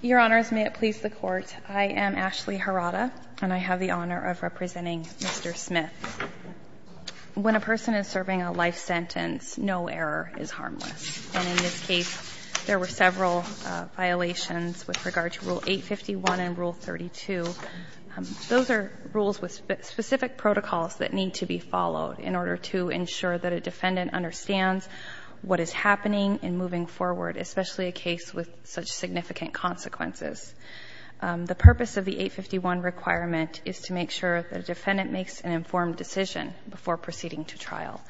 Your Honors, may it please the Court. I am Ashley Harada, and I have the honor of representing Mr. Smith. When a person is serving a life sentence, no error is harmless. And in this case, there were several violations with regard to Rule 851 and Rule 32. Those are rules with specific protocols that need to be followed in order to ensure that a defendant understands what is happening and moving forward, especially a case with such significant consequences. The purpose of the 851 requirement is to make sure that a defendant makes an informed decision before proceeding to trial.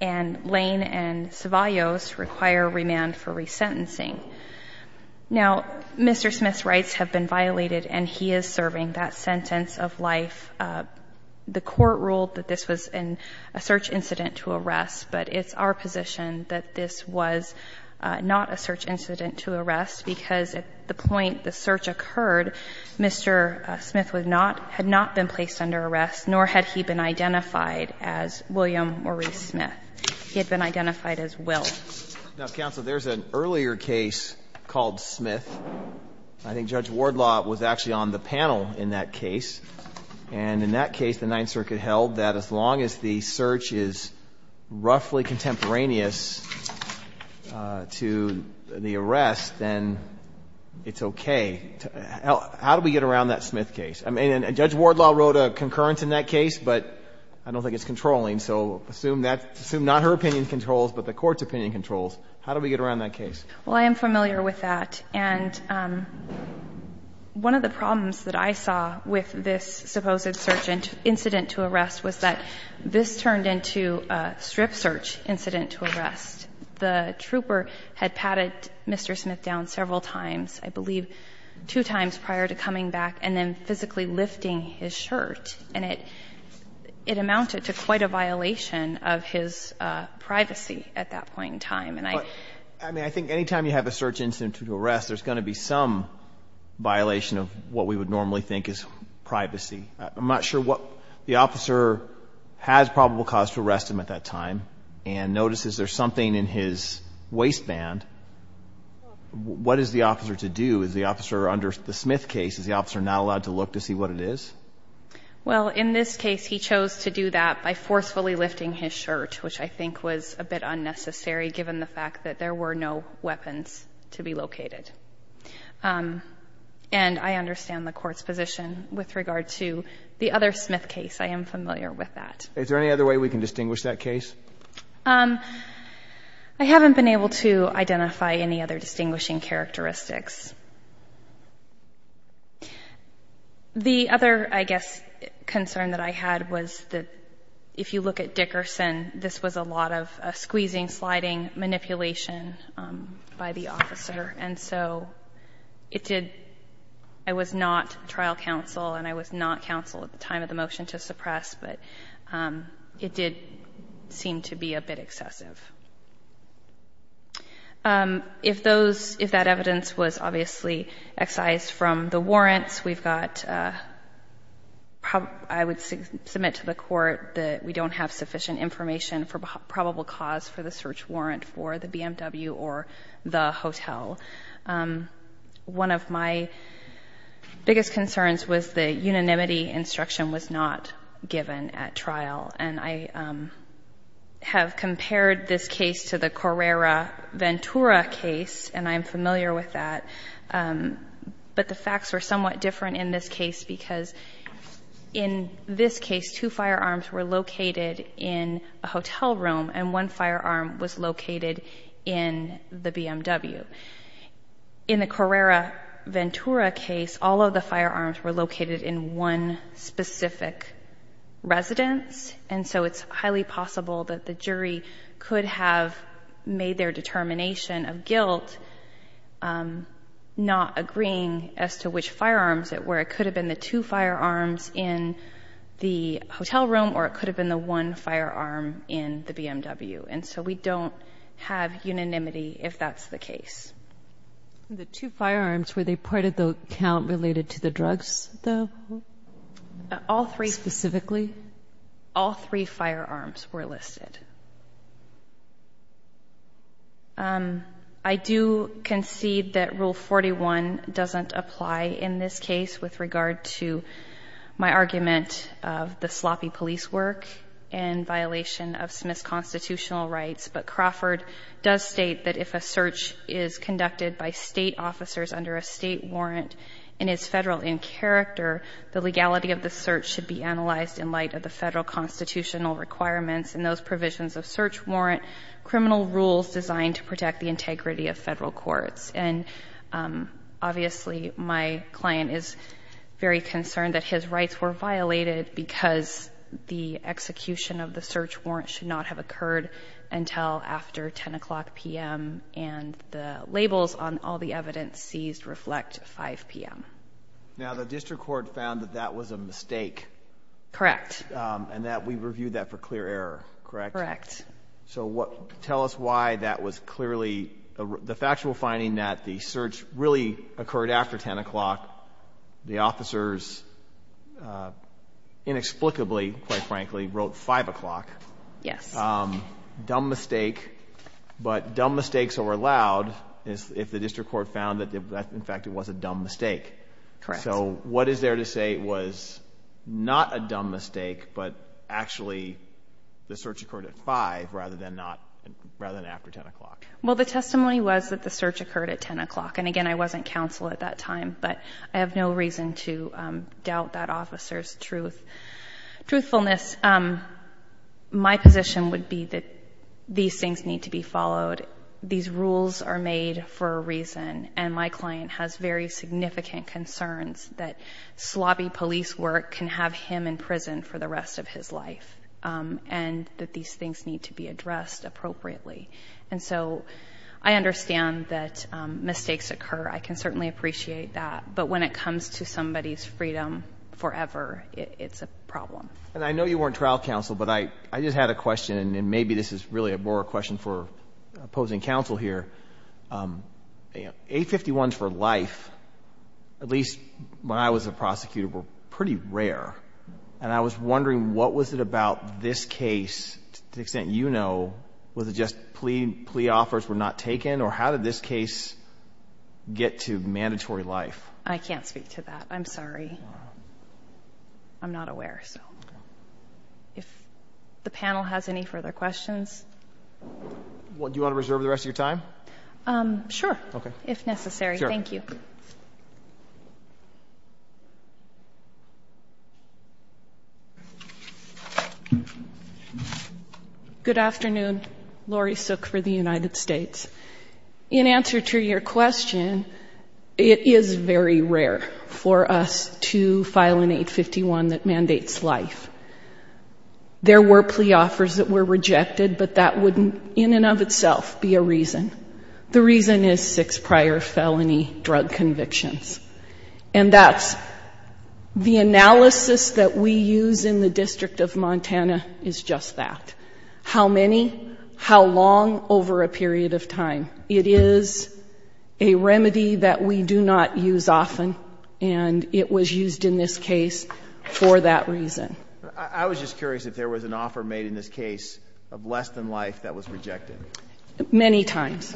And Lane and Ceballos require remand for resentencing. Now, Mr. Smith's rights have been violated, and he is serving that sentence of life. The Court ruled that this was a search incident to arrest, but it's our position that this was not a search incident to arrest, because at the point the search occurred, Mr. Smith had not been placed under arrest, nor had he been identified as William Maurice Smith. He had been identified as Will. Now, Counsel, there's an earlier case called Smith. I think Judge Wardlaw was actually on the panel in that case. And in that case, the Ninth Circuit held that as long as the search is roughly contemporaneous to the arrest, then it's okay. How do we get around that Smith case? I mean, and Judge Wardlaw wrote a concurrence in that case, but I don't think it's controlling. So assume that — assume not her opinion controls, but the Court's opinion controls. How do we get around that case? Well, I am familiar with that. And one of the problems that I saw with this supposed search incident to arrest was that this turned into a strip search incident to arrest. The trooper had patted Mr. Smith down several times, I believe two times prior to coming back, and then physically lifting his shirt. And it amounted to quite a violation of his privacy at that point in time. I mean, I think any time you have a search incident to arrest, there's going to be some violation of what we would normally think is privacy. I'm not sure what the officer has probable cause to arrest him at that time and notices there's something in his waistband. What is the officer to do? Is the officer under the Smith case, is the officer not allowed to look to see what it is? Well, in this case, he chose to do that by forcefully lifting his shirt, which I think was a bit unnecessary given the fact that there were no weapons to be located. And I understand the Court's position with regard to the other Smith case. I am familiar with that. Is there any other way we can distinguish that case? I haven't been able to identify any other distinguishing characteristics. The other, I guess, concern that I had was that if you look at Dickerson, this was a lot of squeezing, sliding, manipulation by the officer. And so it did — I was not trial counsel and I was not counsel at the time of the motion to suppress, but it did seem to be a bit excessive. If those — if that evidence was obviously excised from the warrants, we've got — I would submit to the Court that we don't have sufficient information for probable cause for the search warrant for the BMW or the hotel. One of my biggest concerns was the unanimity instruction was not given at trial. And I have compared this case to the Correra-Ventura case, and I am familiar with that. But the facts were somewhat different in this case because in this case, two firearms were located in a hotel room and one firearm was located in the BMW. In the Correra-Ventura case, all of the firearms were located in one specific residence, and so it's highly possible that the jury could have made their determination of guilt not agreeing as to which firearms it were. It could have been the two firearms in the hotel room or it could have been the one firearm in the BMW. And so we don't have unanimity if that's the case. The two firearms, were they part of the count related to the drugs, though? All three. Specifically? All three firearms were listed. I do concede that Rule 41 doesn't apply in this case with regard to my argument of the sloppy police work and violation of Smith's constitutional rights. But Crawford does state that if a search is conducted by State officers under a State warrant and is Federal in character, the legality of the search should be analyzed in light of the Federal constitutional requirements and those provisions of Search Warrant criminal rules designed to protect the integrity of Federal courts. And obviously, my client is very concerned that his rights were violated because the execution of the Search Warrant should not have occurred until after 10 o'clock p.m. and the labels on all the evidence seized reflect 5 p.m. Now, the District Court found that that was a mistake. Correct. Correct. So tell us why that was clearly the factual finding that the search really occurred after 10 o'clock, the officers inexplicably, quite frankly, wrote 5 o'clock. Yes. Dumb mistake, but dumb mistakes are allowed if the District Court found that, in fact, it was a dumb mistake. Correct. So what is there to say was not a dumb mistake, but actually the search occurred at 5 rather than after 10 o'clock? Well, the testimony was that the search occurred at 10 o'clock. And again, I wasn't counsel at that time, but I have no reason to doubt that officer's truthfulness. My position would be that these things need to be followed. These rules are made for a reason. And my client has very significant concerns that slobby police work can have him in prison for the rest of his life and that these things need to be addressed appropriately. And so I understand that mistakes occur. I can certainly appreciate that. But when it comes to somebody's freedom forever, it's a problem. And I know you weren't trial counsel, but I just had a question, and maybe this is really a more question for opposing counsel here. A51s for life, at least when I was a prosecutor, were pretty rare. And I was wondering what was it about this case, to the extent you know, was it just plea offers were not taken, or how did this case get to mandatory life? I can't speak to that. I'm sorry. I'm not aware. If the panel has any further questions. Do you want to reserve the rest of your time? Sure, if necessary. Thank you. Good afternoon. Lori Sook for the United States. In answer to your question, it is very rare for us to file an 851 that mandates life. There were plea offers that were rejected, but that would in and of itself be a reason. The reason is six prior felony drug convictions. And that's the analysis that we use in the District of Montana is just that. How many, how long over a period of time. It is a remedy that we do not use often, and it was used in this case for that reason. I was just curious if there was an offer made in this case of less than life that was rejected. Many times.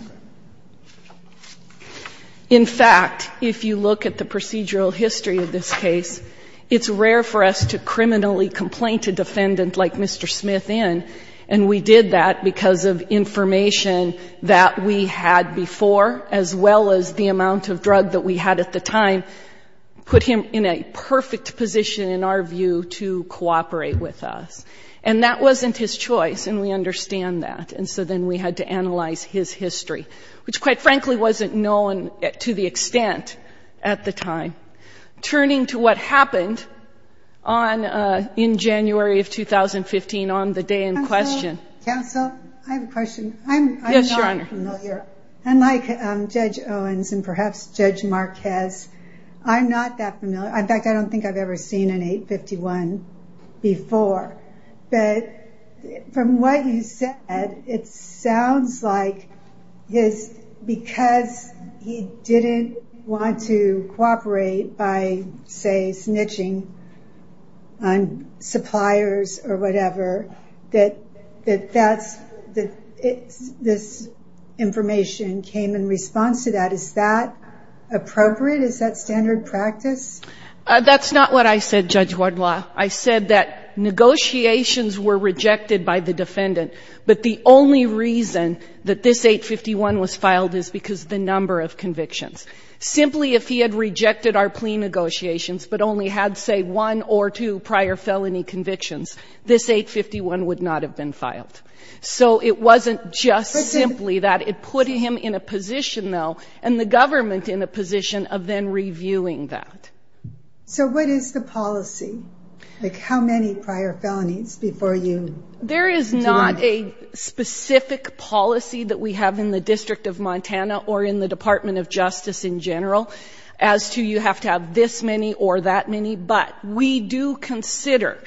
In fact, if you look at the procedural history of this case, it's rare for us to criminally complaint a defendant like Mr. Smith in, and we did that because of information that we had before, as well as the amount of drug that we had at the time put him in a perfect position, in our view, to cooperate with us. And that wasn't his choice, and we understand that. And so then we had to analyze his history, which, quite frankly, wasn't known to the extent at the time. Turning to what happened in January of 2015 on the day in question. Counsel, I have a question. Yes, Your Honor. Unlike Judge Owens and perhaps Judge Marquez, I'm not that familiar. In fact, I don't think I've ever seen an 851 before. But from what you said, it sounds like because he didn't want to cooperate by, say, snitching on suppliers or whatever, that this information came in response to that. Is that appropriate? Is that standard practice? That's not what I said, Judge Wardlaw. I said that negotiations were rejected by the defendant, but the only reason that this 851 was filed is because of the number of convictions. Simply if he had rejected our plea negotiations but only had, say, one or two prior felony convictions, this 851 would not have been filed. So it wasn't just simply that. It put him in a position, though, and the government in a position of then reviewing that. So what is the policy? Like how many prior felonies before you? There is not a specific policy that we have in the District of Montana or in the Department of Justice in general as to you have to have this many or that many, but we do consider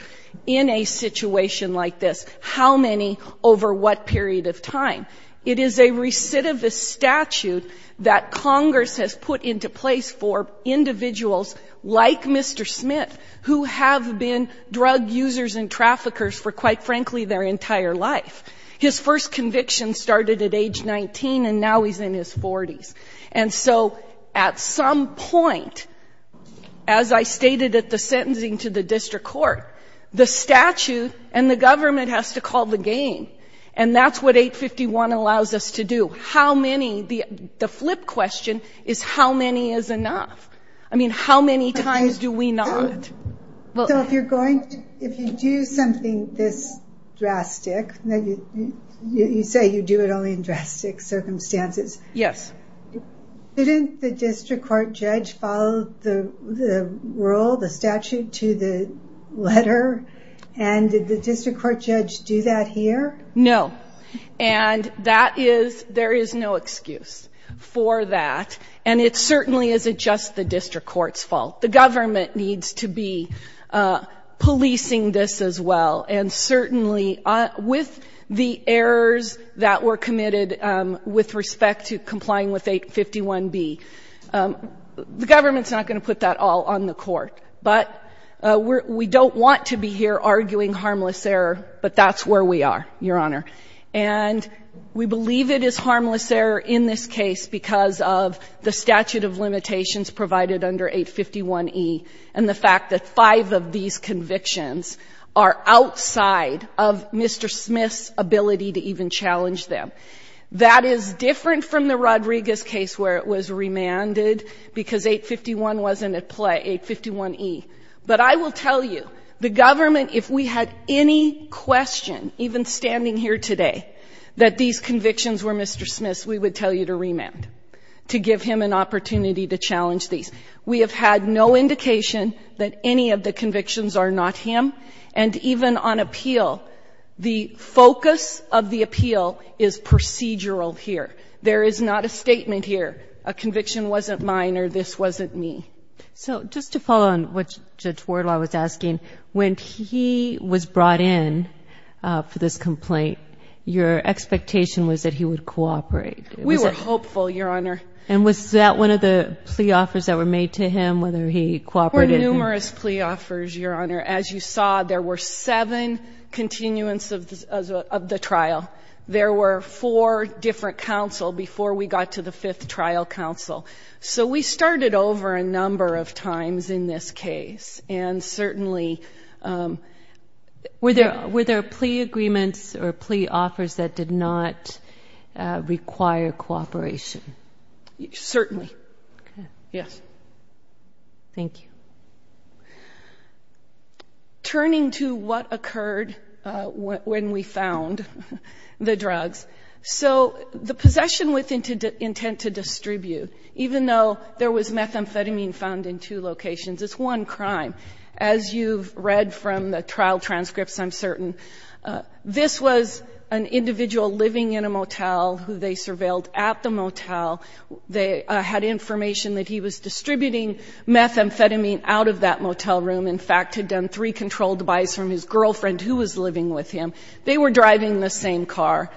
in a situation like this how many over what period of time. It is a recidivist statute that Congress has put into place for individuals like Mr. Smith who have been drug users and traffickers for, quite frankly, their entire life. His first conviction started at age 19, and now he's in his 40s. And so at some point, as I stated at the sentencing to the district court, the statute and the government has to call the game. And that's what 851 allows us to do. The flip question is how many is enough? I mean, how many times do we not? So if you do something this drastic, you say you do it only in drastic circumstances. Yes. Didn't the district court judge follow the rule, the statute, to the letter? And did the district court judge do that here? No. And that is, there is no excuse for that. And it certainly isn't just the district court's fault. The government needs to be policing this as well. And certainly with the errors that were committed with respect to complying with 851B, the government's not going to put that all on the court. But we don't want to be here arguing harmless error, but that's where we are, Your Honor. And we believe it is harmless error in this case because of the statute of limitations provided under 851E and the fact that five of these convictions are outside of Mr. Smith's ability to even challenge them. That is different from the Rodriguez case where it was remanded because 851 wasn't at play. 851E. But I will tell you, the government, if we had any question, even standing here today, that these convictions were Mr. Smith's, we would tell you to remand, to give him an opportunity to challenge these. We have had no indication that any of the convictions are not him. And even on appeal, the focus of the appeal is procedural here. There is not a statement here, a conviction wasn't mine or this wasn't me. So just to follow on what Judge Wardlaw was asking, when he was brought in for this complaint, your expectation was that he would cooperate. We were hopeful, Your Honor. And was that one of the plea offers that were made to him, whether he cooperated? There were numerous plea offers, Your Honor. As you saw, there were seven continuance of the trial. There were four different counsel before we got to the fifth trial counsel. So we started over a number of times in this case. And certainly, were there plea agreements or plea offers that did not require cooperation? Certainly. Yes. Thank you. Turning to what occurred when we found the drugs. So the possession with intent to distribute, even though there was methamphetamine found in two locations, it's one crime. As you've read from the trial transcripts, I'm certain, this was an individual living in a motel who they surveilled at the motel. They had information that he was distributing methamphetamine out of that motel room, in fact, had done three controlled buys from his girlfriend who was living with him. They were driving the same car.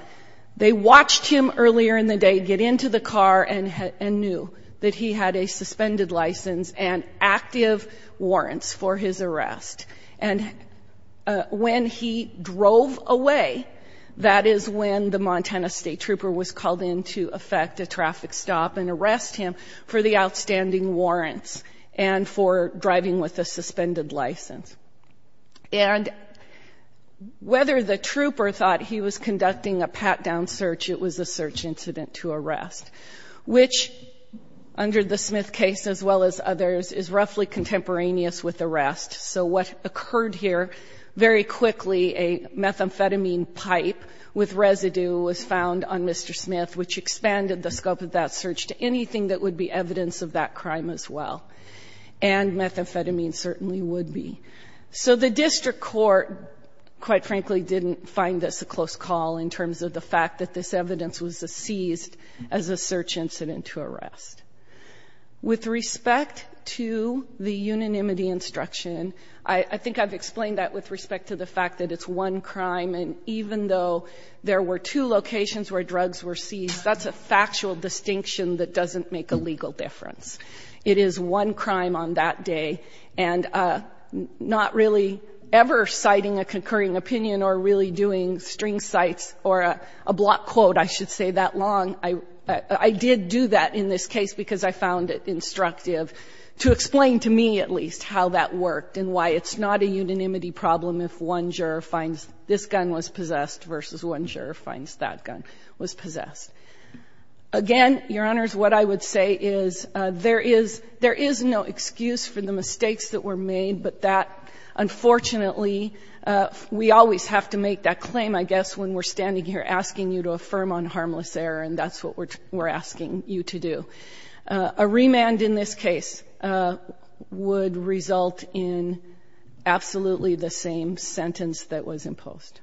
They watched him earlier in the day get into the car and knew that he had a suspended license and active warrants for his arrest. And when he drove away, that is when the Montana State Trooper was called in to effect a traffic stop and arrest him for the outstanding warrants and for driving with a suspended license. And whether the trooper thought he was conducting a pat-down search, it was a search incident to arrest, which under the Smith case as well as others is roughly contemporaneous with arrest. So what occurred here very quickly, a methamphetamine pipe with residue was found on Mr. Smith, which expanded the scope of that search to anything that would be evidence of that crime as well. And methamphetamine certainly would be. So the district court, quite frankly, didn't find this a close call in terms of the fact that this evidence was seized as a search incident to arrest. With respect to the unanimity instruction, I think I've explained that with respect to the fact that it's one crime, and even though there were two locations where drugs were seized, that's a factual distinction that doesn't make a legal difference. It is one crime on that day, and not really ever citing a concurring opinion or really doing string cites or a block quote, I should say, that long. I did do that in this case because I found it instructive to explain to me at least how that worked and why it's not a unanimity problem if one juror finds this gun was possessed versus one juror finds that gun was possessed. Again, Your Honors, what I would say is there is no excuse for the mistakes that were made, but that, unfortunately, we always have to make that claim, I guess, when we're standing here asking you to affirm on harmless error, and that's what we're asking you to do. A remand in this case would result in absolutely the same sentence that was imposed.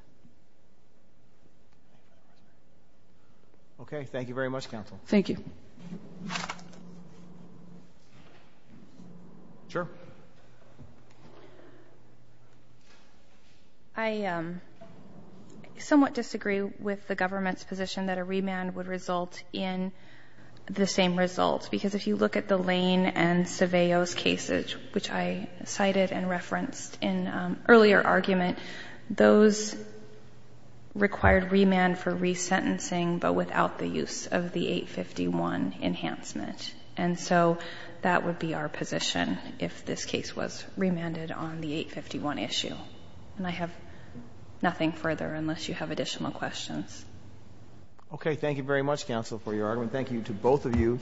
Okay. Thank you very much, counsel. Thank you. Sure. I somewhat disagree with the government's position that a remand would result in the same result because if you look at the Lane and Cervellos cases, which I cited and referenced in an earlier argument, those required remand for resentencing but without the use of the 851 enhancement. And so that would be our position if this case was remanded on the 851 issue. And I have nothing further unless you have additional questions. Okay. Thank you very much, counsel, for your argument. Thank you to both of you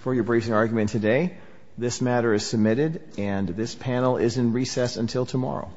for your briefing argument today. This matter is submitted, and this panel is in recess until tomorrow.